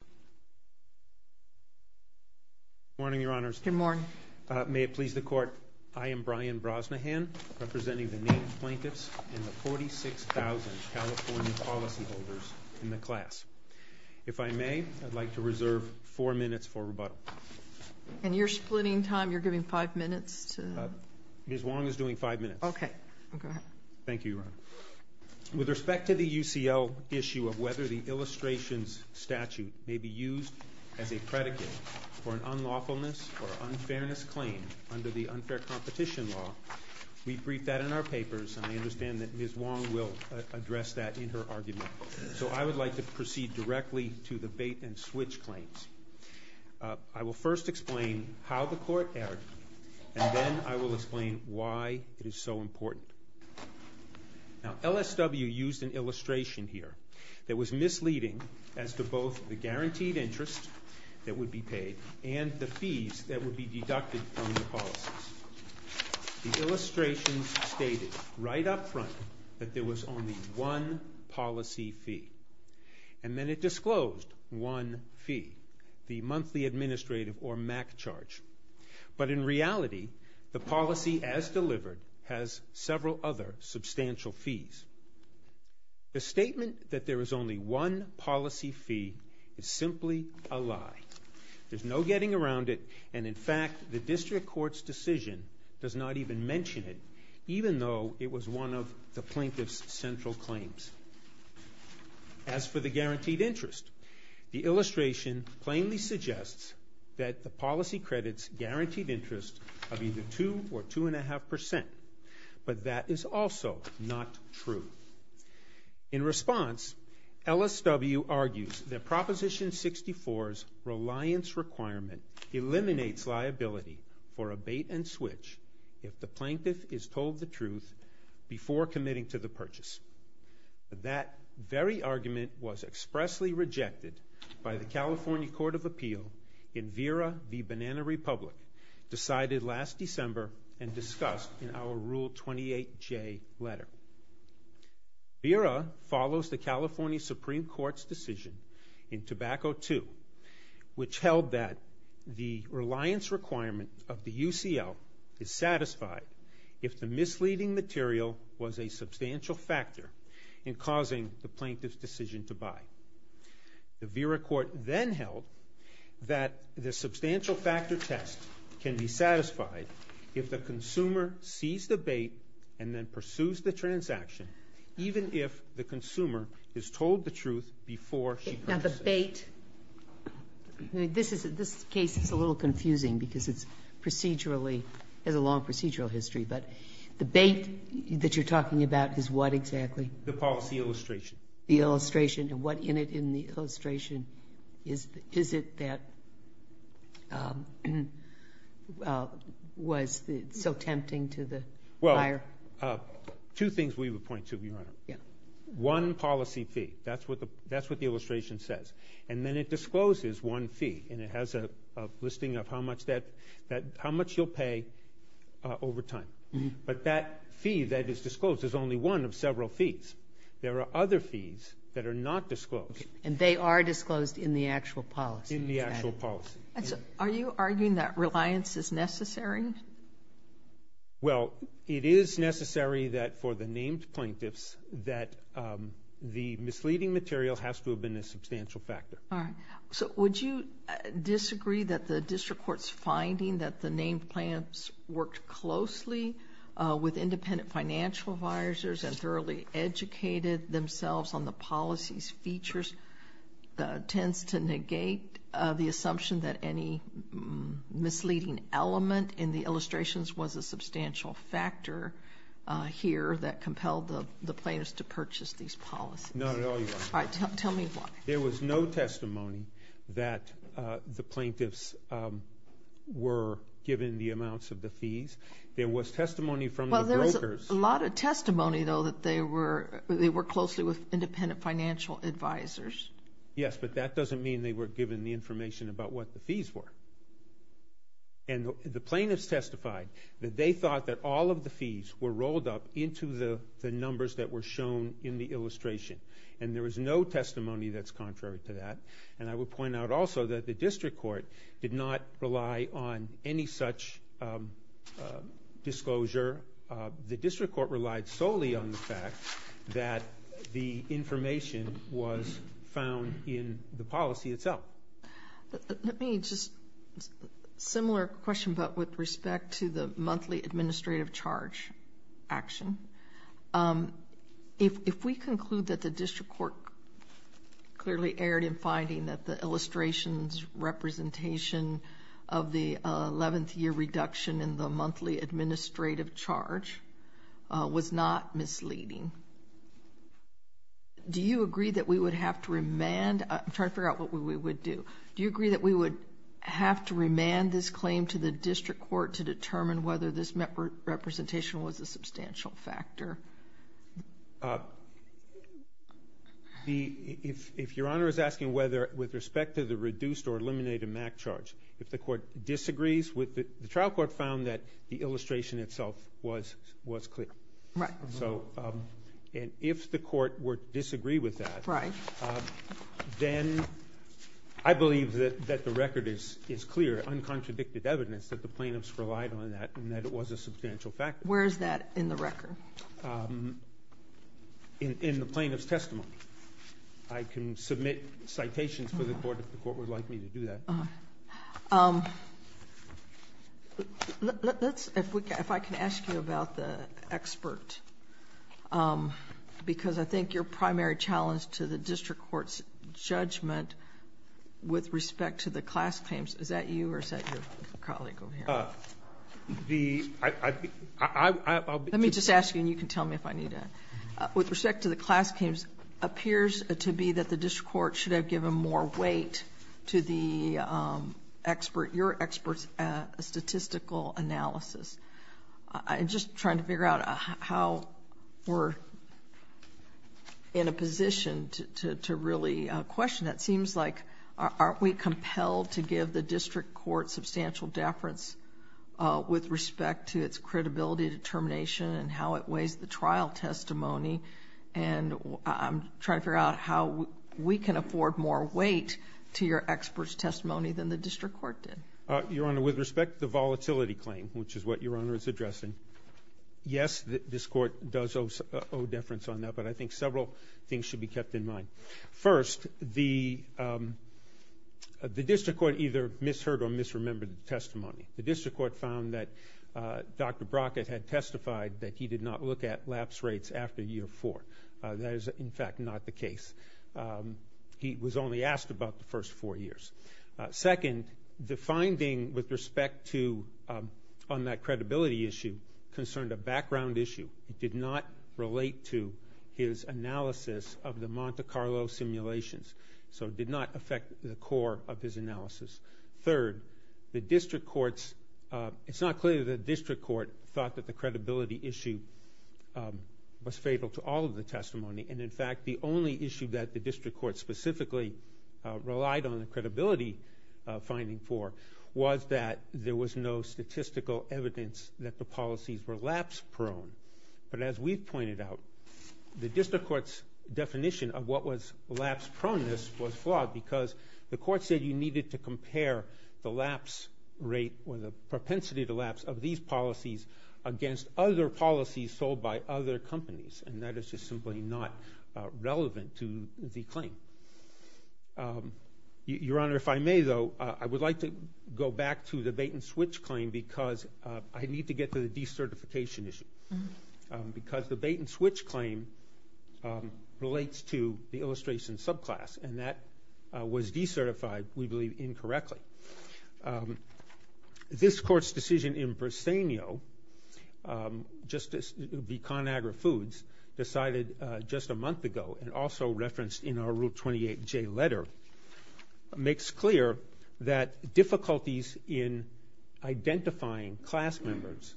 District of Columbia, California. Good morning, Your Honors. Good morning. May it please the Court, I am Brian Brosnahan, representing the native plaintiffs and the 46,000 California policyholders in the class. If I may, I'd like to reserve four minutes for rebuttal. And you're splitting time? You're giving five minutes to... Ms. Wong is doing five minutes. Okay. Go ahead. Thank you, Your Honor. With respect to the UCL issue of whether the illustrations statute may be used as a predicate for an unlawfulness or unfairness claim under the unfair competition law, we briefed that in our papers, and I understand that Ms. Wong will address that in her argument. So I would like to proceed directly to the bait-and-switch claims. I will first explain how the Court erred, and then I will explain why it is so important. Now, LSW used an illustration here that was misleading as to both the guaranteed interest that would be paid and the fees that would be deducted from the policies. The illustration stated right up front that there was only one policy fee, and then it disclosed one fee, the monthly administrative or MAC charge. But in reality, the policy as delivered has several other substantial fees. The statement that there is only one policy fee is simply a lie. There's no getting around it, and in fact, the District Court's decision does not even mention it, even though it was one of the plaintiff's central claims. As for the guaranteed interest, the illustration plainly suggests that the policy credits guaranteed interest of either 2 or 2.5 percent, but that is also not true. In response, LSW argues that Proposition 64's reliance requirement eliminates liability for a bait-and-switch if the plaintiff is told the truth before committing to the purchase. That very argument was expressly rejected by the California Court of Appeal in Vera v. Banana Republic, decided last December and discussed in our Rule 28J letter. Vera follows the California Supreme Court's decision in Tobacco II, which held that the reliance requirement of the UCL is satisfied if the misleading material was a substantial factor in causing the plaintiff's decision to buy. The Vera court then held that the substantial factor test can be satisfied if the consumer sees the bait and then pursues the transaction, even if the consumer is told the truth before she purchases it. Now the bait, this case is a little confusing because it's procedurally, has a long procedural history, but the bait that you're talking about is what exactly? The policy illustration. The illustration, and what in it in the illustration is it that was so tempting to the buyer? Two things we would point to, Your Honor. One, policy fee. That's what the illustration says. And then it discloses one fee, and it has a listing of how much you'll pay over time. But that fee that is disclosed is only one of several fees. There are other fees that are not disclosed. And they are disclosed in the actual policy. In the actual policy. Are you arguing that reliance is necessary? Well, it is necessary that for the named plaintiffs that the misleading material has to have been a substantial factor. All right. So would you disagree that the district court's finding that the named plaintiffs worked closely with independent financial advisors and thoroughly educated themselves on the policy's features tends to negate the assumption that any misleading element in the illustrations was a substantial factor here that compelled the plaintiffs to purchase these policies? Not at all, Your Honor. All right. Tell me why. There was no testimony that the plaintiffs were given the amounts of the fees. There was testimony from the brokers. Well, there was a lot of testimony, though, that they were closely with independent financial advisors. Yes, but that doesn't mean they were given the information about what the fees were. And the plaintiffs testified that they thought that all of the fees were rolled up into the numbers that were shown in the illustration. And there was no testimony that's contrary to that. And I would point out also that the district court did not rely on any such disclosure. The district court relied solely on the fact that the information was found in the policy itself. Let me just ask a similar question, but with respect to the monthly administrative charge action. If we conclude that the district court clearly erred in finding that the illustrations' representation of the 11th year reduction in the monthly administrative charge was not misleading, do you agree that we would have to remand? I'm trying to figure out what we would do. Do you agree that we would have to remand this claim to the district court to determine whether this representation was a substantial factor? If Your Honor is asking whether with respect to the reduced or eliminated MAC charge, if the court disagrees with it, the trial court found that the illustration itself was clear. Right. And if the court were to disagree with that, then I believe that the record is clear, uncontradicted evidence that the plaintiffs relied on that and that it was a substantial factor. Where is that in the record? In the plaintiff's testimony. I can submit citations for the court if the court would like me to do that. If I can ask you about the expert, because I think your primary challenge to the district court's judgment with respect to the class claims, is that you or is that your colleague over here? Let me just ask you, and you can tell me if I need to. With respect to the class claims, it appears to be that the district court should have given more weight to the expert, your expert's statistical analysis. I'm just trying to figure out how we're in a position to really question that. It seems like, aren't we compelled to give the district court substantial deference with respect to its credibility determination and how it weighs the trial testimony? And I'm trying to figure out how we can afford more weight to your expert's testimony than the district court did. Your Honor, with respect to the volatility claim, which is what Your Honor is addressing, yes, this court does owe deference on that, but I think several things should be kept in mind. First, the district court either misheard or misremembered the testimony. The district court found that Dr. Brockett had testified that he did not look at lapse rates after year four. That is, in fact, not the case. He was only asked about the first four years. Second, the finding with respect to on that credibility issue concerned a background issue. It did not relate to his analysis of the Monte Carlo simulations, so it did not affect the core of his analysis. Third, it's not clear that the district court thought that the credibility issue was fatal to all of the testimony, and, in fact, the only issue that the district court specifically relied on the credibility finding for was that there was no statistical evidence that the policies were lapse-prone. But as we pointed out, the district court's definition of what was lapse-proneness was flawed because the court said you needed to compare the lapse rate or the propensity to lapse of these policies against other policies sold by other companies, and that is just simply not relevant to the claim. Your Honor, if I may, though, I would like to go back to the bait-and-switch claim because I need to get to the decertification issue because the bait-and-switch claim relates to the illustration subclass, and that was decertified, we believe, incorrectly. This Court's decision in Briseno, Justice Conagra Foods decided just a month ago and also referenced in our Rule 28J letter, makes clear that difficulties in identifying class members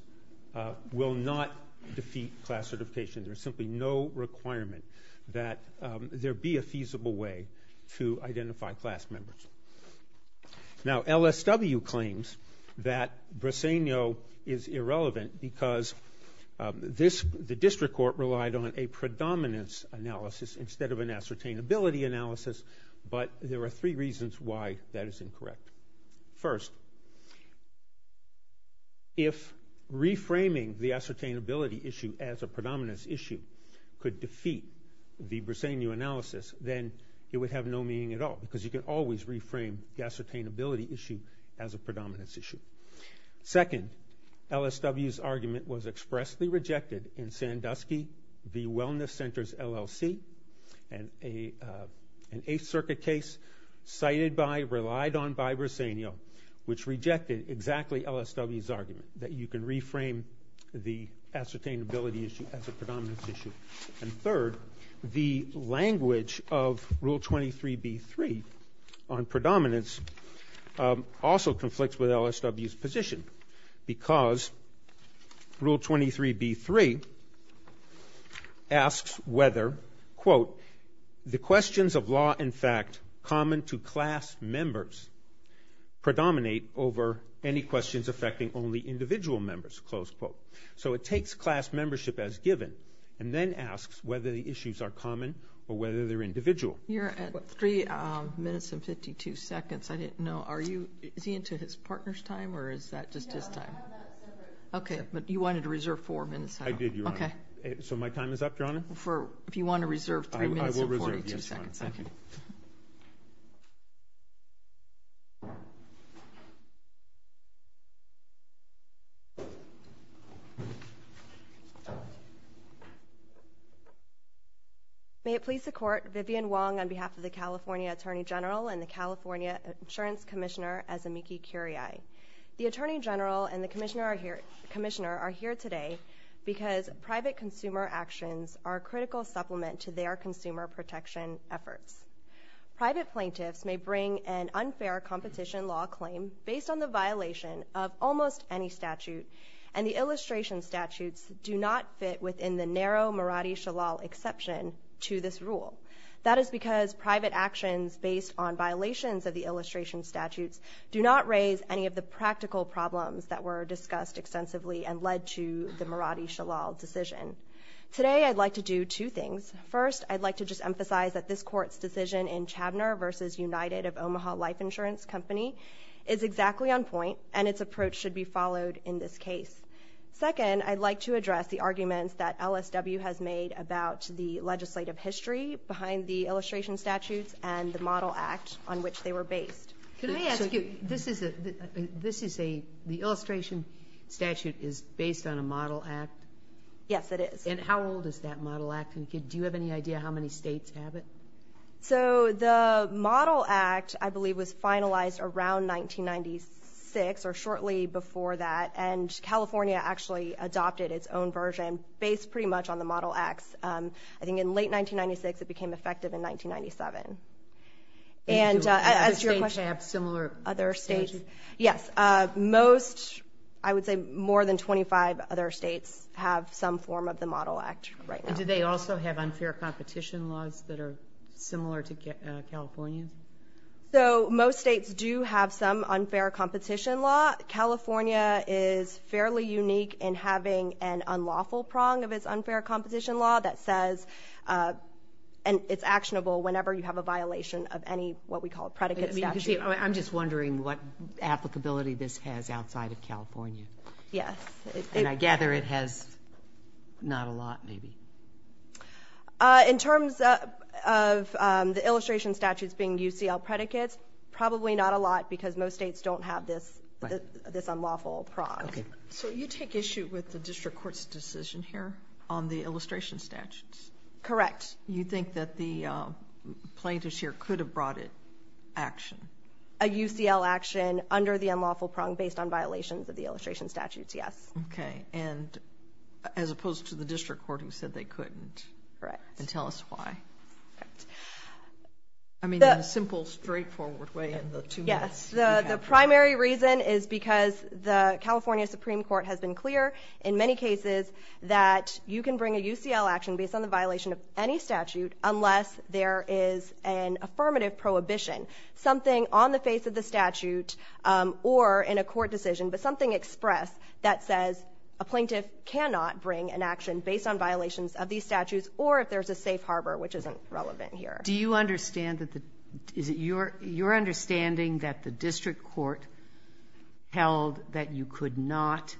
will not defeat class certification. There's simply no requirement that there be a feasible way to identify class members. Now, LSW claims that Briseno is irrelevant because the district court relied on a predominance analysis instead of an ascertainability analysis, but there are three reasons why that is incorrect. First, if reframing the ascertainability issue as a predominance issue could defeat the Briseno analysis, then it would have no meaning at all because you could always reframe the ascertainability issue as a predominance issue. Second, LSW's argument was expressly rejected in Sandusky v. Wellness Center's LLC, an Eighth Circuit case cited by, relied on by Briseno, which rejected exactly LSW's argument that you can reframe the ascertainability issue as a predominance issue. And third, the language of Rule 23b-3 on predominance also conflicts with LSW's position because Rule 23b-3 asks whether, quote, the questions of law, in fact, common to class members predominate over any questions affecting only individual members, close quote. So it takes class membership as given and then asks whether the issues are common or whether they're individual. You're at three minutes and 52 seconds. I didn't know, are you, is he into his partner's time or is that just his time? No, we have that separate. Okay, but you wanted to reserve four minutes. I did, Your Honor. Okay. So my time is up, Your Honor? For, if you want to reserve three minutes and 42 seconds. I will reserve, yes, Your Honor. Thank you. May it please the Court, Vivian Wong on behalf of the California Attorney General and the California Insurance Commissioner, Azumiki Kuriai. The Attorney General and the Commissioner are here today because private consumer actions are a critical supplement to their consumer protection efforts. Private plaintiffs may bring an unfair competition law claim based on the violation of almost any statute and the illustration statutes do not fit within the narrow Maradi-Shalal exception to this rule. That is because private actions based on violations of the illustration statutes do not raise any of the practical problems that were discussed extensively and led to the Maradi-Shalal decision. Today I'd like to do two things. First, I'd like to just emphasize that this Court's decision in Chabner v. United of Omaha Life Insurance Company is exactly on point and its approach should be followed in this case. Second, I'd like to address the arguments that LSW has made about the legislative history behind the illustration statutes and the Model Act on which they were based. Can I ask you, this is a, the illustration statute is based on a Model Act? Yes, it is. And how old is that Model Act? Do you have any idea how many states have it? So the Model Act I believe was finalized around 1996 or shortly before that and California actually adopted its own version based pretty much on the Model Acts. I think in late 1996 it became effective in 1997. Thank you. Other states have similar statutes? Other states, yes. Most, I would say more than 25 other states have some form of the Model Act right now. And do they also have unfair competition laws that are similar to California's? So most states do have some unfair competition law. California is fairly unique in having an unlawful prong of its unfair competition law that says it's actionable whenever you have a violation of any what we call predicate statute. I'm just wondering what applicability this has outside of California. Yes. And I gather it has not a lot maybe. In terms of the illustration statutes being UCL predicates, probably not a lot because most states don't have this unlawful prong. Okay. So you take issue with the district court's decision here on the illustration statutes? Correct. You think that the plaintiffs here could have brought it action? A UCL action under the unlawful prong based on violations of the illustration statutes, yes. Okay. And as opposed to the district court who said they couldn't? Correct. And tell us why. I mean in a simple, straightforward way in the two minutes. Yes. The primary reason is because the California Supreme Court has been clear in many cases that you can bring a UCL action based on the violation of any statute unless there is an affirmative prohibition. Something on the face of the statute or in a court decision, but something expressed that says a plaintiff cannot bring an action based on violations of these statutes or if there's a safe harbor, which isn't relevant here. Do you understand that the – is it your understanding that the district court held that you could not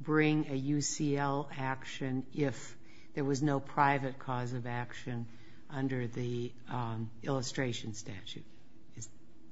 bring a UCL action if there was no private cause of action under the illustration statute?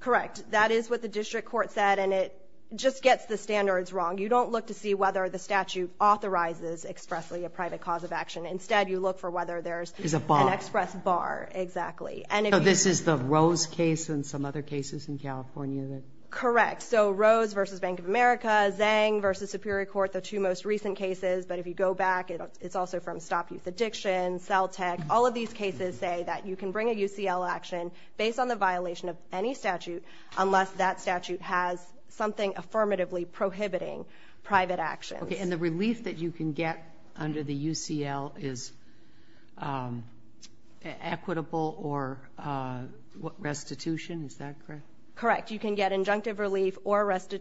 Correct. That is what the district court said, and it just gets the standards wrong. You don't look to see whether the statute authorizes expressly a private cause of action. Instead, you look for whether there's an express bar. Is a bar. Exactly. So this is the Rose case and some other cases in California? Correct. So Rose v. Bank of America, Zhang v. Superior Court, the two most recent cases, but if you go back, it's also from Stop Youth Addiction, Celtic. All of these cases say that you can bring a UCL action based on the violation of any statute unless that statute has something affirmatively prohibiting private action. Okay, and the relief that you can get under the UCL is equitable or restitution. Is that correct? Correct. You can get injunctive relief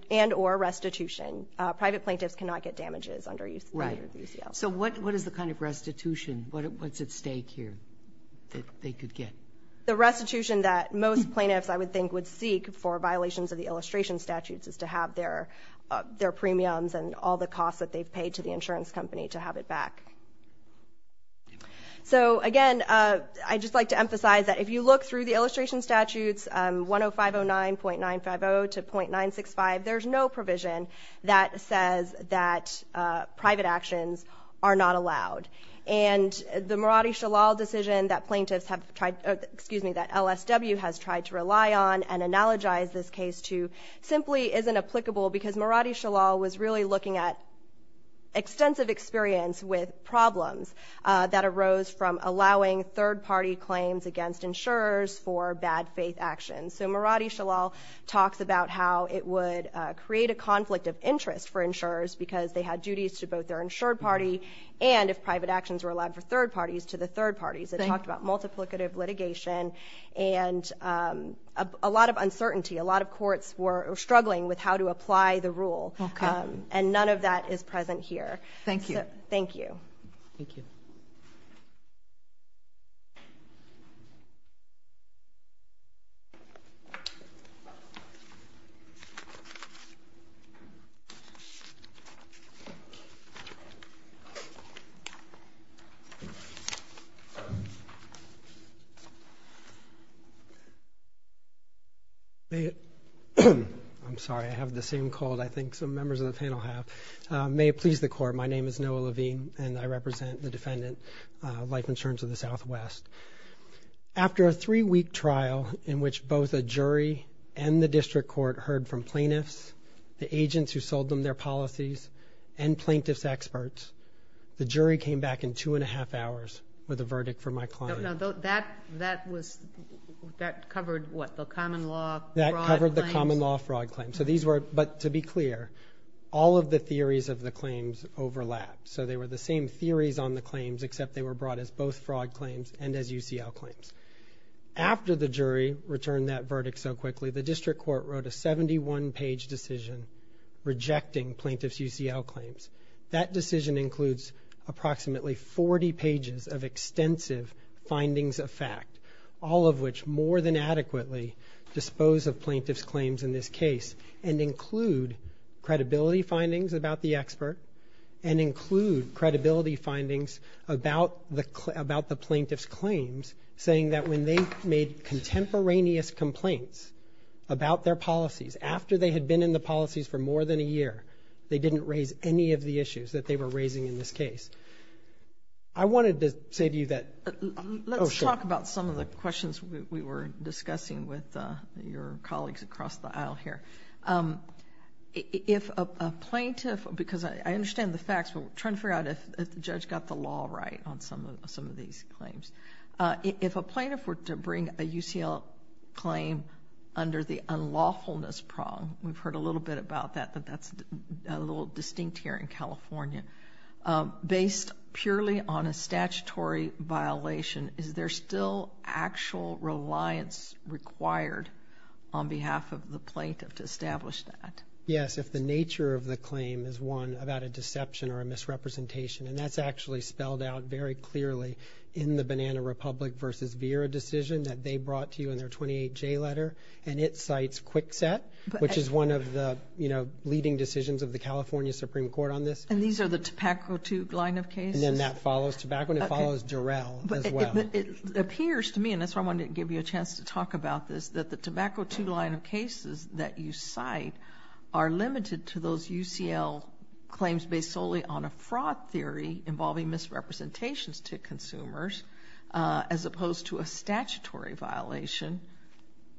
and or restitution. Private plaintiffs cannot get damages under UCL. Right. So what is the kind of restitution? What's at stake here that they could get? The restitution that most plaintiffs, I would think, would seek for violations of the illustration statutes is to have their premiums and all the costs that they've paid to the insurance company to have it back. So, again, I'd just like to emphasize that if you look through the illustration statutes, 10509.950 to .965, there's no provision that says that private actions are not allowed. And the Maradi Shalal decision that plaintiffs have tried, excuse me, that LSW has tried to rely on and analogize this case to simply isn't applicable because Maradi Shalal was really looking at extensive experience with problems that arose from allowing third-party claims against insurers for bad faith actions. So Maradi Shalal talks about how it would create a conflict of interest for insurers because they had duties to both their insured party and if private actions were allowed for third parties, to the third parties. It talked about multiplicative litigation and a lot of uncertainty. A lot of courts were struggling with how to apply the rule. Okay. And none of that is present here. Thank you. Thank you. Thank you. I'm sorry. I have the same cold I think some members of the panel have. May it please the Court, my name is Noah Levine and I represent the defendant, Life Insurance of the Southwest. After a three-week trial in which both a jury and the district court heard from plaintiffs, the agents who sold them their policies, and plaintiff's experts, the jury came back in two and a half hours with a verdict for my client. That covered what, the common law fraud claims? That covered the common law fraud claims. So these were, but to be clear, all of the theories of the claims overlap. So they were the same theories on the claims except they were brought as both fraud claims and as UCL claims. After the jury returned that verdict so quickly, the district court wrote a 71-page decision rejecting plaintiff's UCL claims. That decision includes approximately 40 pages of extensive findings of fact, all of which more than adequately dispose of plaintiff's claims in this case and include credibility findings about the expert and include credibility findings about the plaintiff's claims, saying that when they made contemporaneous complaints about their policies, after they had been in the policies for more than a year, they didn't raise any of the issues that they were raising in this case. I wanted to say to you that, oh, sure. Let me talk about some of the questions we were discussing with your colleagues across the aisle here. If a plaintiff, because I understand the facts, but we're trying to figure out if the judge got the law right on some of these claims. If a plaintiff were to bring a UCL claim under the unlawfulness prong, we've heard a little bit about that, that that's a little distinct here in California, based purely on a statutory violation, is there still actual reliance required on behalf of the plaintiff to establish that? Yes, if the nature of the claim is, one, about a deception or a misrepresentation, and that's actually spelled out very clearly in the Banana Republic v. Vera decision that they brought to you in their 28J letter, and it cites Kwikset, which is one of the leading decisions of the California Supreme Court on this. And these are the Tobacco II line of cases? And then that follows Tobacco and it follows Durrell as well. It appears to me, and that's why I wanted to give you a chance to talk about this, that the Tobacco II line of cases that you cite are limited to those UCL claims based solely on a fraud theory involving misrepresentations to consumers as opposed to a statutory violation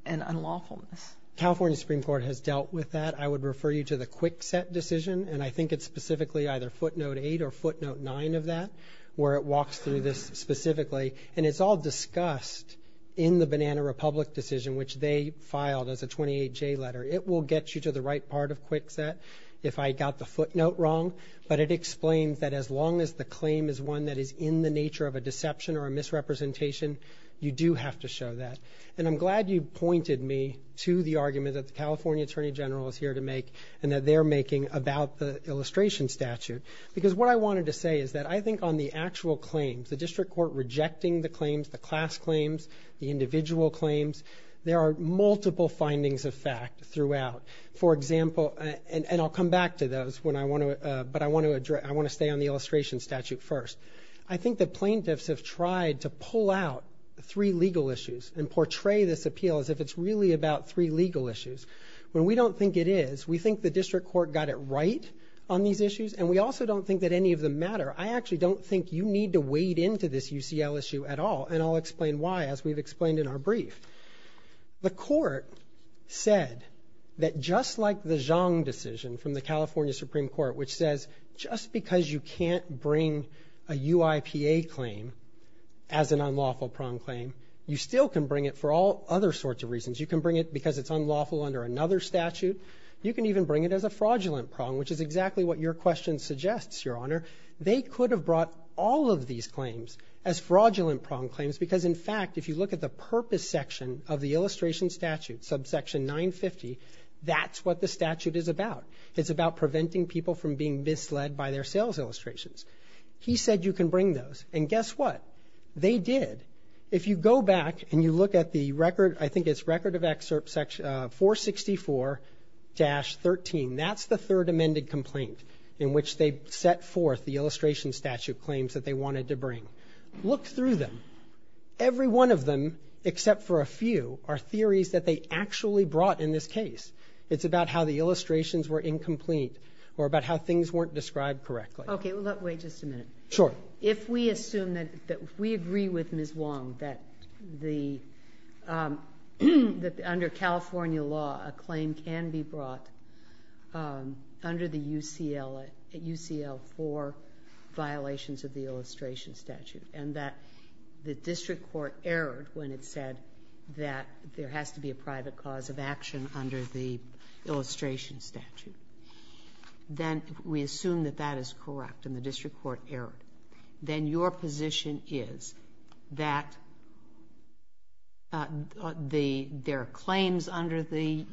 and unlawfulness. California Supreme Court has dealt with that. I would refer you to the Kwikset decision, and I think it's specifically either footnote 8 or footnote 9 of that where it walks through this specifically. And it's all discussed in the Banana Republic decision, which they filed as a 28J letter. It will get you to the right part of Kwikset if I got the footnote wrong, but it explains that as long as the claim is one that is in the nature of a deception or a misrepresentation, you do have to show that. And I'm glad you pointed me to the argument that the California Attorney General is here to make and that they're making about the illustration statute because what I wanted to say is that I think on the actual claims, the district court rejecting the claims, the class claims, the individual claims, there are multiple findings of fact throughout. For example, and I'll come back to those, but I want to stay on the illustration statute first. I think the plaintiffs have tried to pull out three legal issues and portray this appeal as if it's really about three legal issues. When we don't think it is, we think the district court got it right on these issues, and we also don't think that any of them matter. I actually don't think you need to wade into this UCL issue at all, and I'll explain why as we've explained in our brief. The court said that just like the Zhang decision from the California Supreme Court, which says just because you can't bring a UIPA claim as an unlawful prong claim, you still can bring it for all other sorts of reasons. You can bring it because it's unlawful under another statute. You can even bring it as a fraudulent prong, which is exactly what your question suggests, Your Honor. They could have brought all of these claims as fraudulent prong claims because, in fact, if you look at the purpose section of the illustration statute, subsection 950, that's what the statute is about. It's about preventing people from being misled by their sales illustrations. He said you can bring those, and guess what? They did. If you go back and you look at the record, I think it's Record of Excerpt 464-13, that's the third amended complaint in which they set forth the illustration statute claims that they wanted to bring. Look through them. Every one of them, except for a few, are theories that they actually brought in this case. It's about how the illustrations were incomplete or about how things weren't described correctly. Okay, wait just a minute. Sure. If we assume that we agree with Ms. Wong that under California law, a claim can be brought under the UCL for violations of the illustration statute and that the district court erred when it said that there has to be a private cause of action under the illustration statute, then we assume that that is correct and the district court erred. Then your position is that their claims under the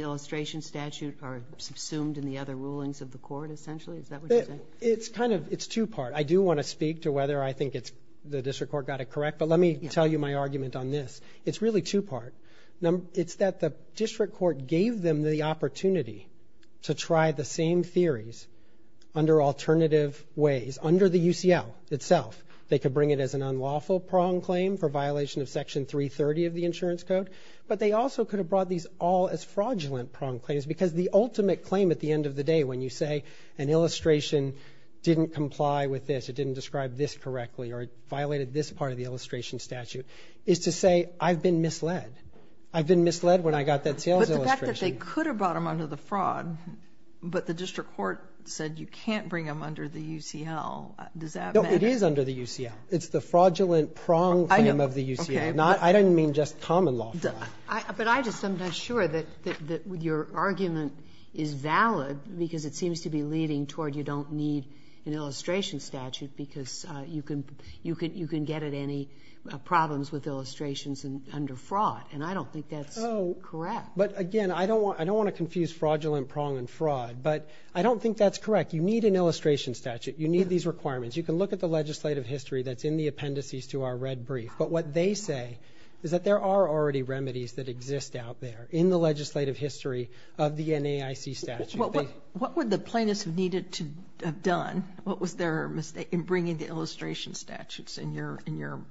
illustration statute are subsumed in the other rulings of the court, essentially? Is that what you're saying? It's two-part. I do want to speak to whether I think the district court got it correct, but let me tell you my argument on this. It's really two-part. It's that the district court gave them the opportunity to try the same theories under alternative ways, under the UCL itself. They could bring it as an unlawful prong claim for violation of Section 330 of the Insurance Code, but they also could have brought these all as fraudulent prong claims because the ultimate claim at the end of the day when you say an illustration didn't comply with this, it didn't describe this correctly, or it violated this part of the illustration statute, is to say I've been misled. I've been misled when I got that sales illustration. But the fact that they could have brought them under the fraud, but the district court said you can't bring them under the UCL, does that matter? No, it is under the UCL. It's the fraudulent prong claim of the UCL. I didn't mean just common law fraud. But I just am not sure that your argument is valid because it seems to be leading toward you don't need an illustration statute because you can get at any problems with illustrations under fraud, and I don't think that's correct. But, again, I don't want to confuse fraudulent prong and fraud, but I don't think that's correct. You need an illustration statute. You need these requirements. You can look at the legislative history that's in the appendices to our red brief, but what they say is that there are already remedies that exist out there in the legislative history of the NAIC statute. What would the plaintiffs have needed to have done? What was their mistake in bringing the illustration statutes in your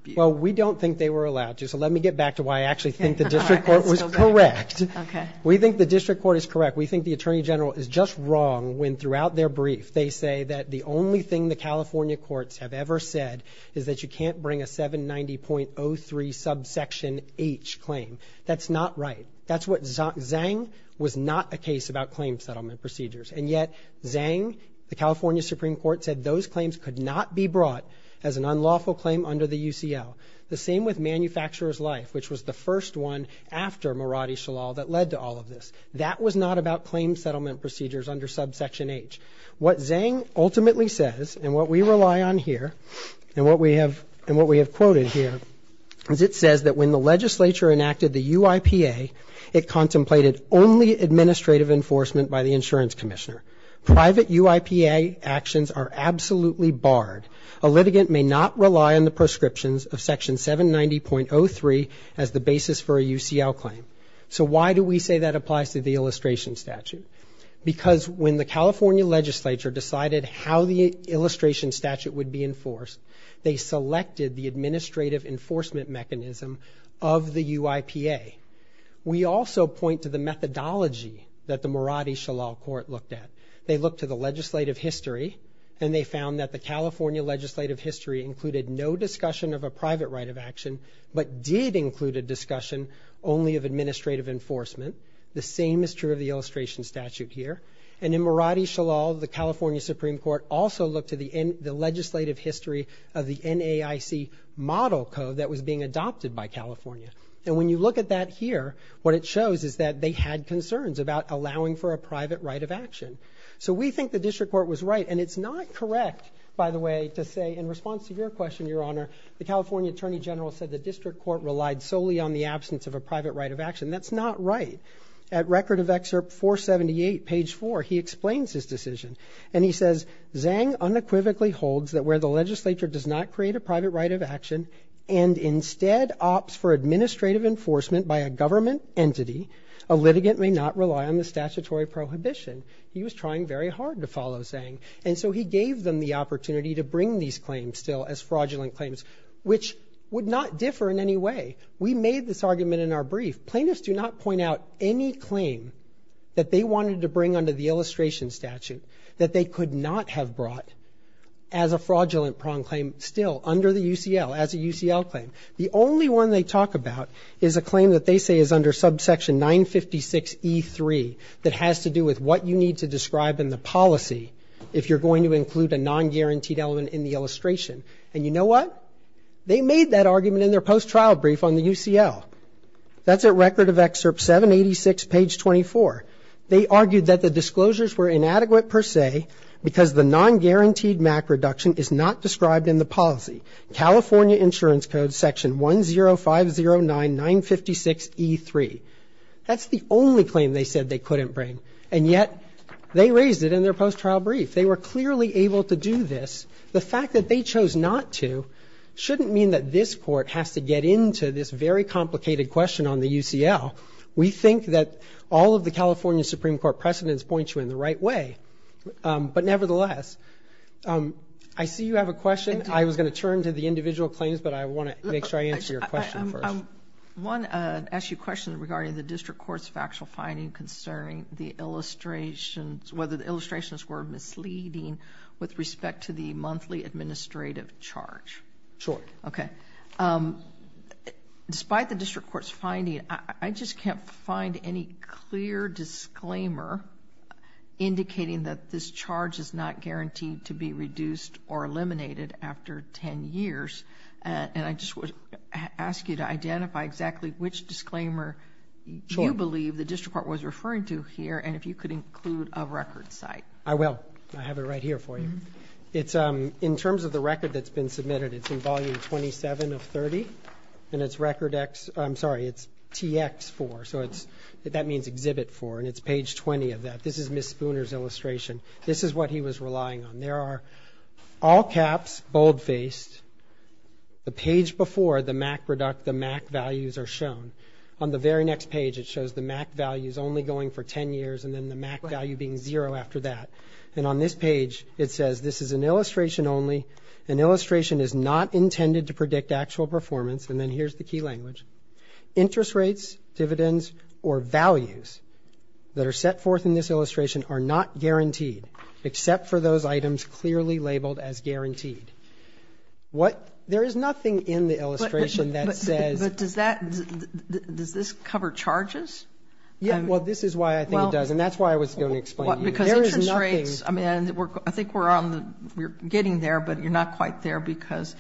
view? Well, we don't think they were allowed to, so let me get back to why I actually think the district court was correct. Okay. We think the district court is correct. We think the attorney general is just wrong when, throughout their brief, they say that the only thing the California courts have ever said is that you can't bring a 790.03 subsection H claim. That's not right. That's what Zang was not a case about claim settlement procedures, and yet Zang, the California Supreme Court, said those claims could not be brought as an unlawful claim under the UCL. The same with manufacturer's life, which was the first one after Maradi Shalal that led to all of this. That was not about claim settlement procedures under subsection H. What Zang ultimately says, and what we rely on here, and what we have quoted here, is it says that when the legislature enacted the UIPA, it contemplated only administrative enforcement by the insurance commissioner. Private UIPA actions are absolutely barred. A litigant may not rely on the prescriptions of section 790.03 as the basis for a UCL claim. So why do we say that applies to the illustration statute? Because when the California legislature decided how the illustration statute would be enforced, they selected the administrative enforcement mechanism of the UIPA. We also point to the methodology that the Maradi Shalal court looked at. They looked to the legislative history, and they found that the California legislative history included no discussion of a private right of action, but did include a discussion only of administrative enforcement. The same is true of the illustration statute here. And in Maradi Shalal, the California Supreme Court also looked at the legislative history of the NAIC model code that was being adopted by California. And when you look at that here, what it shows is that they had concerns about allowing for a private right of action. So we think the district court was right, and it's not correct, by the way, to say in response to your question, Your Honor, the California attorney general said the district court relied solely on the absence of a private right of action. That's not right. At Record of Excerpt 478, page 4, he explains his decision, and he says Zhang unequivocally holds that where the legislature does not create a private right of action and instead opts for administrative enforcement by a government entity, a litigant may not rely on the statutory prohibition. He was trying very hard to follow Zhang, and so he gave them the opportunity to bring these claims still as fraudulent claims, which would not differ in any way. We made this argument in our brief. Plaintiffs do not point out any claim that they wanted to bring under the illustration statute that they could not have brought as a fraudulent prong claim still under the UCL, as a UCL claim. The only one they talk about is a claim that they say is under subsection 956E3 that has to do with what you need to describe in the policy if you're going to include a non-guaranteed element in the illustration. And you know what? They made that argument in their post-trial brief on the UCL. That's at Record of Excerpt 786, page 24. They argued that the disclosures were inadequate per se because the non-guaranteed MAC reduction is not described in the policy, California Insurance Code section 10509956E3. That's the only claim they said they couldn't bring, and yet they raised it in their post-trial brief. They were clearly able to do this. The fact that they chose not to shouldn't mean that this court has to get into this very complicated question on the UCL. We think that all of the California Supreme Court precedents point you in the right way. But nevertheless, I see you have a question. I was going to turn to the individual claims, but I want to make sure I answer your question first. I want to ask you a question regarding the district court's factual finding concerning the illustrations, whether the illustrations were misleading with respect to the monthly administrative charge. Sure. Okay. Despite the district court's finding, I just can't find any clear disclaimer indicating that this charge is not guaranteed to be reduced or eliminated after 10 years. And I just would ask you to identify exactly which disclaimer you believe the district court was referring to here, and if you could include a record site. I will. I have it right here for you. In terms of the record that's been submitted, it's in Volume 27 of 30, and it's TX4. So that means Exhibit 4, and it's page 20 of that. This is Ms. Spooner's illustration. This is what he was relying on. There are all caps, bold-faced. The page before, the MAC values are shown. On the very next page, it shows the MAC values only going for 10 years, and then the MAC value being zero after that. And on this page, it says this is an illustration only. An illustration is not intended to predict actual performance. And then here's the key language. Interest rates, dividends, or values that are set forth in this illustration are not guaranteed, except for those items clearly labeled as guaranteed. There is nothing in the illustration that says. But does this cover charges? Well, this is why I think it does, and that's why I was going to explain to you. Because interest rates, I mean, I think we're getting there, but you're not quite there because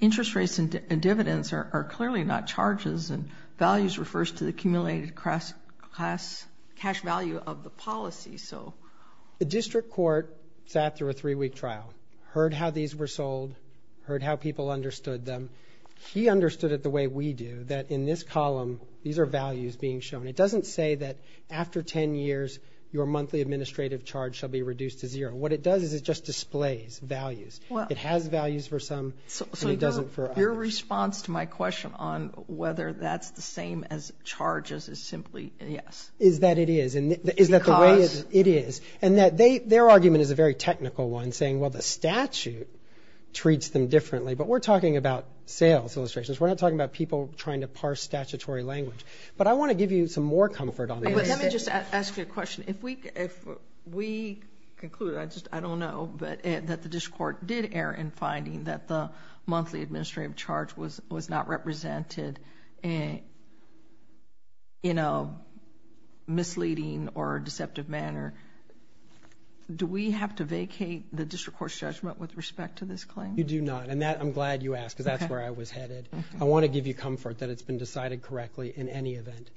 interest rates and dividends are clearly not charges, and values refers to the cumulated cash value of the policy. The district court sat through a three-week trial, heard how these were sold, heard how people understood them. He understood it the way we do, that in this column, these are values being shown. It doesn't say that after 10 years, your monthly administrative charge shall be reduced to zero. What it does is it just displays values. It has values for some, and it doesn't for others. So your response to my question on whether that's the same as charges is simply yes. Is that it is? Is that the way it is? And their argument is a very technical one, saying, well, the statute treats them differently. But we're talking about sales illustrations. We're not talking about people trying to parse statutory language. But I want to give you some more comfort on this. Let me just ask you a question. If we conclude, I don't know, but that the district court did err in finding that the monthly administrative charge was not represented in a misleading or deceptive manner, do we have to vacate the district court's judgment with respect to this claim? You do not. And I'm glad you asked because that's where I was headed. I want to give you comfort that it's been decided correctly in any event.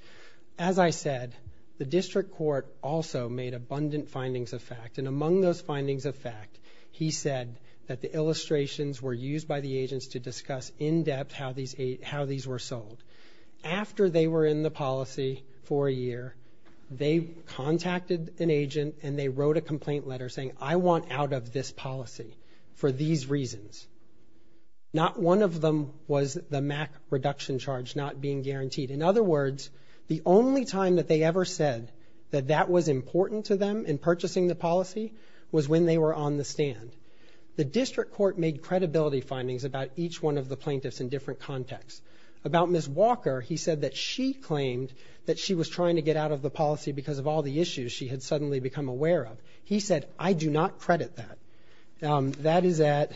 As I said, the district court also made abundant findings of fact. And among those findings of fact, he said that the illustrations were used by the agents to discuss in depth how these were sold. After they were in the policy for a year, they contacted an agent and they wrote a complaint letter saying, I want out of this policy for these reasons. Not one of them was the MAC reduction charge not being guaranteed. In other words, the only time that they ever said that that was important to them in purchasing the policy was when they were on the stand. The district court made credibility findings about each one of the plaintiffs in different contexts. About Ms. Walker, he said that she claimed that she was trying to get out of the policy because of all the issues she had suddenly become aware of. He said, I do not credit that. That is at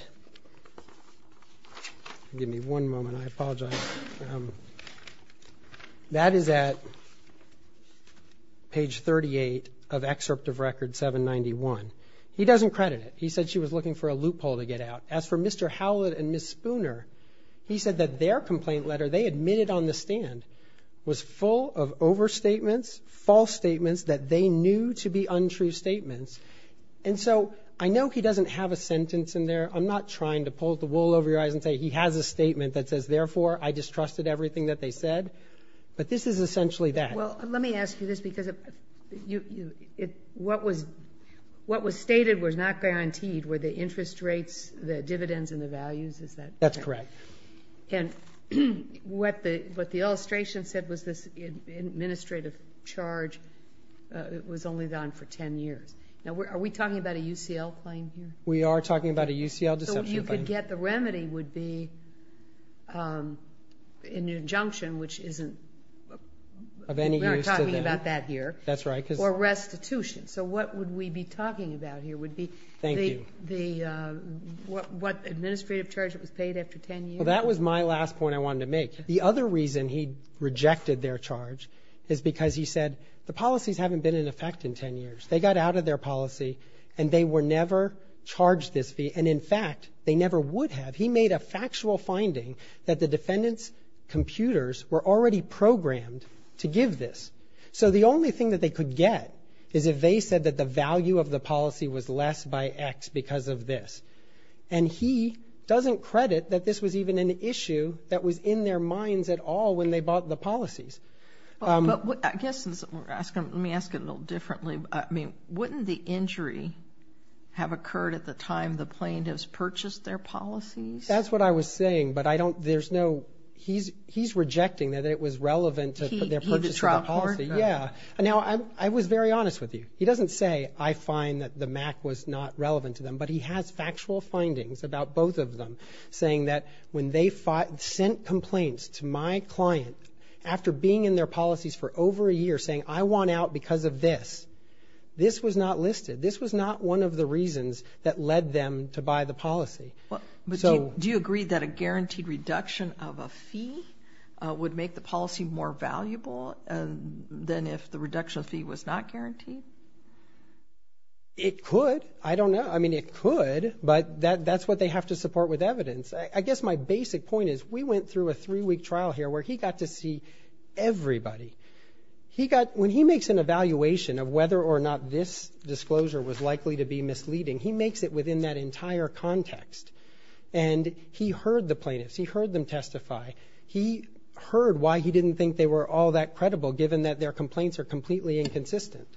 page 38 of excerpt of record 791. He doesn't credit it. He said she was looking for a loophole to get out. As for Mr. Howlett and Ms. Spooner, he said that their complaint letter, they admitted on the stand, was full of overstatements, false statements that they knew to be untrue statements. And so I know he doesn't have a sentence in there. I'm not trying to pull the wool over your eyes and say he has a statement that says, therefore, I distrusted everything that they said. But this is essentially that. Well, let me ask you this because what was stated was not guaranteed. Were the interest rates, the dividends, and the values? Is that correct? That's correct. And what the illustration said was this administrative charge was only gone for 10 years. Now, are we talking about a UCL claim here? We are talking about a UCL deception claim. What you could get the remedy would be an injunction, which isn't of any use to them. We aren't talking about that here. That's right. Or restitution. So what would we be talking about here would be the administrative charge that was paid after 10 years. Well, that was my last point I wanted to make. The other reason he rejected their charge is because he said, the policies haven't been in effect in 10 years. They got out of their policy and they were never charged this fee. And, in fact, they never would have. He made a factual finding that the defendant's computers were already programmed to give this. So the only thing that they could get is if they said that the value of the policy was less by X because of this. And he doesn't credit that this was even an issue that was in their minds at all when they bought the policies. But I guess let me ask it a little differently. I mean, wouldn't the injury have occurred at the time the plaintiffs purchased their policies? That's what I was saying, but I don't – there's no – he's rejecting that it was relevant to their purchase of the policy. He just dropped court. Yeah. Now, I was very honest with you. He doesn't say, I find that the Mac was not relevant to them, but he has factual findings about both of them saying that when they sent complaints to my client, after being in their policies for over a year saying, I want out because of this, this was not listed. This was not one of the reasons that led them to buy the policy. Do you agree that a guaranteed reduction of a fee would make the policy more valuable than if the reduction fee was not guaranteed? It could. I don't know. I mean, it could, but that's what they have to support with evidence. I guess my basic point is we went through a three-week trial here where he got to see everybody. He got – when he makes an evaluation of whether or not this disclosure was likely to be misleading, he makes it within that entire context, and he heard the plaintiffs. He heard them testify. He heard why he didn't think they were all that credible, given that their complaints are completely inconsistent.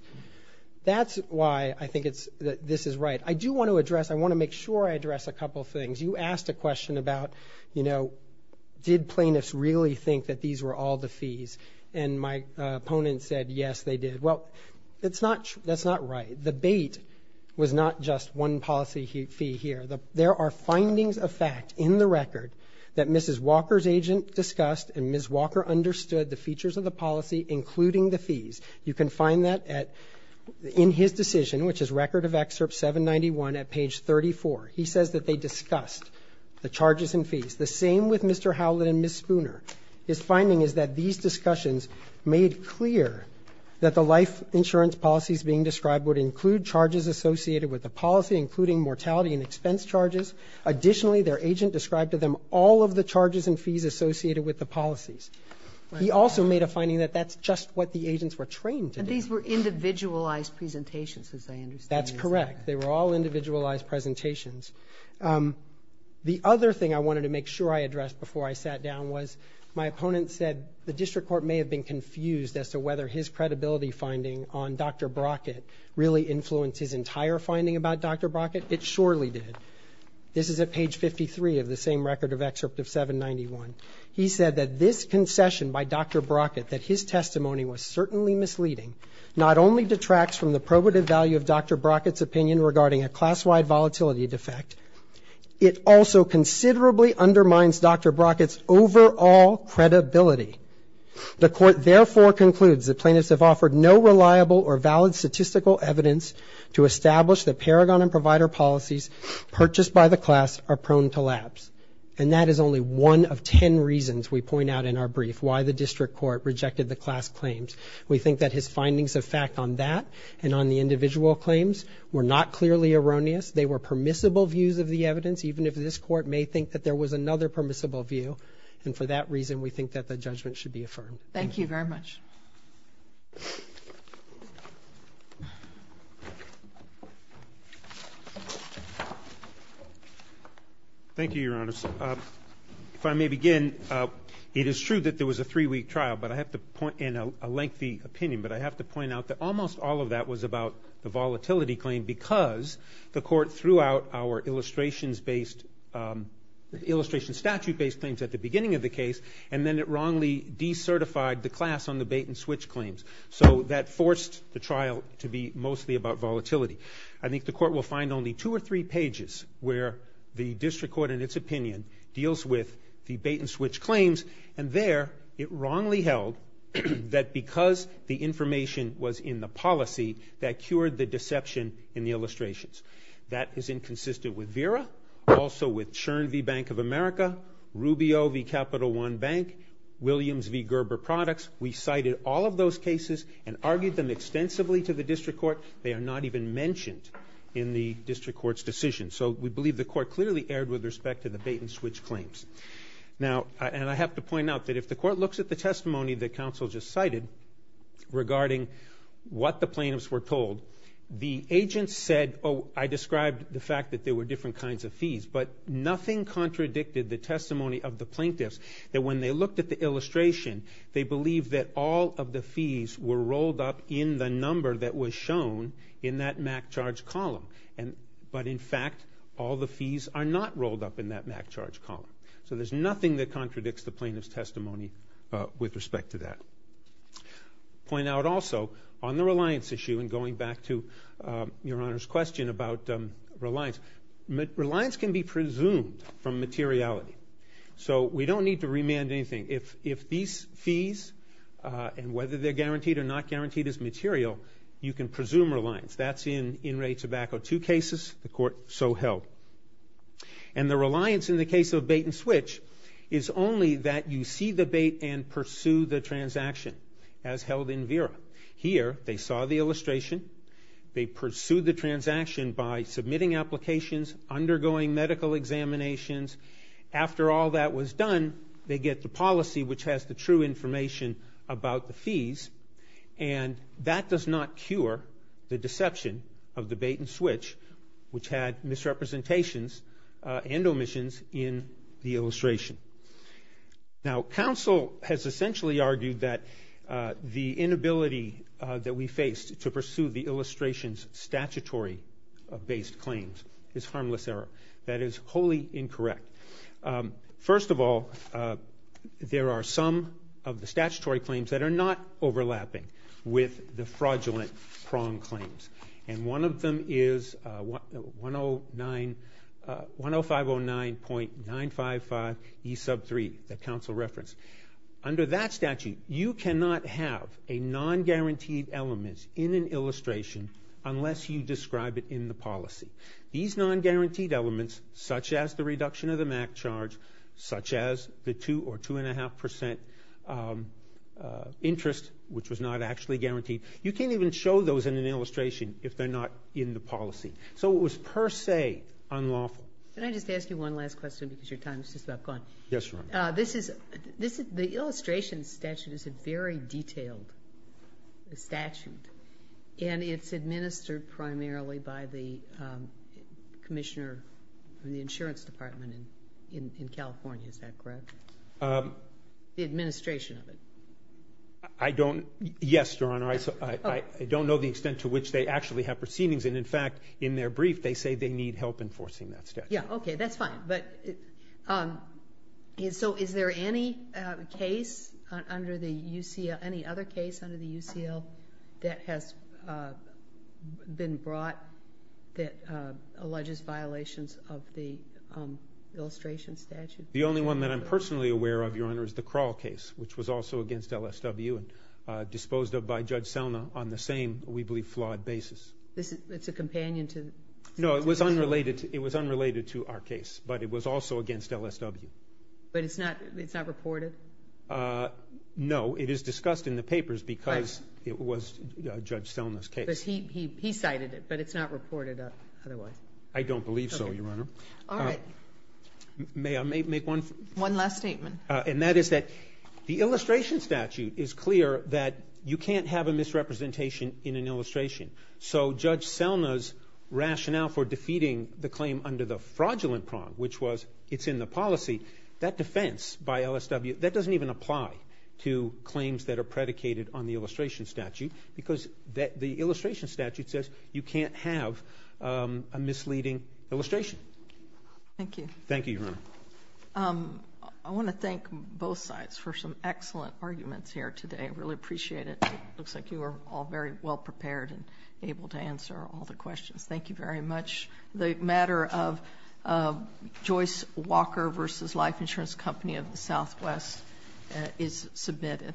That's why I think it's – this is right. I do want to address – I want to make sure I address a couple things. You asked a question about, you know, did plaintiffs really think that these were all the fees? And my opponent said, yes, they did. Well, it's not – that's not right. The bait was not just one policy fee here. There are findings of fact in the record that Mrs. Walker's agent discussed, and Ms. Walker understood the features of the policy, including the fees. You can find that at – in his decision, which is Record of Excerpt 791 at page 34. He says that they discussed the charges and fees. The same with Mr. Howlett and Ms. Spooner. His finding is that these discussions made clear that the life insurance policies being described would include charges associated with the policy, including mortality and expense charges. Additionally, their agent described to them all of the charges and fees associated with the policies. He also made a finding that that's just what the agents were trained to do. And these were individualized presentations, as I understand. That's correct. They were all individualized presentations. The other thing I wanted to make sure I addressed before I sat down was my opponent said the district court may have been confused as to whether his credibility finding on Dr. Brockett really influenced his entire finding about Dr. Brockett. It surely did. This is at page 53 of the same Record of Excerpt of 791. He said that this concession by Dr. Brockett, that his testimony was certainly misleading, not only detracts from the probative value of Dr. Brockett's opinion regarding a class-wide volatility defect, it also considerably undermines Dr. Brockett's overall credibility. The court therefore concludes that plaintiffs have offered no reliable or valid statistical evidence to establish that Paragon and Provider policies purchased by the class are prone to lapse. And that is only one of ten reasons we point out in our brief why the district court rejected the class claims. We think that his findings of fact on that and on the individual claims were not clearly erroneous. They were permissible views of the evidence, even if this court may think that there was another permissible view. And for that reason, we think that the judgment should be affirmed. Thank you very much. Thank you, Your Honors. If I may begin, it is true that there was a three-week trial, but I have to point in a lengthy opinion, but I have to point out that almost all of that was about the volatility claim because the court threw out our illustration statute-based claims at the beginning of the case, and then it wrongly decertified the class on the bait-and-switch claims. So that forced the trial to be mostly about volatility. I think the court will find only two or three pages where the district court, in its opinion, deals with the bait-and-switch claims, and there it wrongly held that because the information was in the policy, that cured the deception in the illustrations. That is inconsistent with VERA, also with Chern v. Bank of America, Rubio v. Capital One Bank, Williams v. Gerber Products. We cited all of those cases and argued them extensively to the district court. They are not even mentioned in the district court's decision. So we believe the court clearly erred with respect to the bait-and-switch claims. Now, and I have to point out that if the court looks at the testimony that counsel just cited regarding what the plaintiffs were told, the agent said, oh, I described the fact that there were different kinds of fees, but nothing contradicted the testimony of the plaintiffs that when they looked at the illustration, they believed that all of the fees were rolled up in the number that was shown in that MAC charge column. But, in fact, all the fees are not rolled up in that MAC charge column. So there's nothing that contradicts the plaintiff's testimony with respect to that. I'll point out also on the reliance issue, and going back to Your Honor's question about reliance, reliance can be presumed from materiality. So we don't need to remand anything. If these fees, and whether they're guaranteed or not guaranteed as material, you can presume reliance. That's in in-rate tobacco. Two cases, the court so held. And the reliance in the case of bait-and-switch is only that you see the bait and pursue the transaction, as held in VERA. Here, they saw the illustration. They pursued the transaction by submitting applications, undergoing medical examinations. After all that was done, they get the policy, which has the true information about the fees. And that does not cure the deception of the bait-and-switch, which had misrepresentations and omissions in the illustration. Now, counsel has essentially argued that the inability that we faced to pursue the illustration's statutory-based claims is harmless error. That is wholly incorrect. First of all, there are some of the statutory claims that are not overlapping with the fraudulent prong claims. And one of them is 10509.955E3, that counsel referenced. Under that statute, you cannot have a non-guaranteed element in an illustration unless you describe it in the policy. These non-guaranteed elements, such as the reduction of the MAC charge, such as the two or two-and-a-half percent interest, which was not actually guaranteed, you can't even show those in an illustration if they're not in the policy. So it was per se unlawful. Can I just ask you one last question because your time is just about gone? Yes, Your Honor. The illustration statute is a very detailed statute, and it's administered primarily by the commissioner in the insurance department in California. Is that correct? The administration of it. Yes, Your Honor. I don't know the extent to which they actually have proceedings. And, in fact, in their brief, they say they need help enforcing that statute. Yeah, okay, that's fine. So is there any other case under the UCL that has been brought that alleges violations of the illustration statute? The only one that I'm personally aware of, Your Honor, is the Kroll case, which was also against LSW and disposed of by Judge Selma on the same, we believe, flawed basis. It's a companion to the UCL? No, it was unrelated to our case, but it was also against LSW. But it's not reported? No, it is discussed in the papers because it was Judge Selma's case. Because he cited it, but it's not reported otherwise. I don't believe so, Your Honor. All right. May I make one? One last statement. And that is that the illustration statute is clear that you can't have a misrepresentation in an illustration. So Judge Selma's rationale for defeating the claim under the fraudulent prong, which was it's in the policy, that defense by LSW, that doesn't even apply to claims that are predicated on the illustration statute because the illustration statute says you can't have a misleading illustration. Thank you. Thank you, Your Honor. I want to thank both sides for some excellent arguments here today. I really appreciate it. It looks like you were all very well prepared and able to answer all the questions. Thank you very much. The matter of Joyce Walker v. Life Insurance Company of the Southwest is submitted.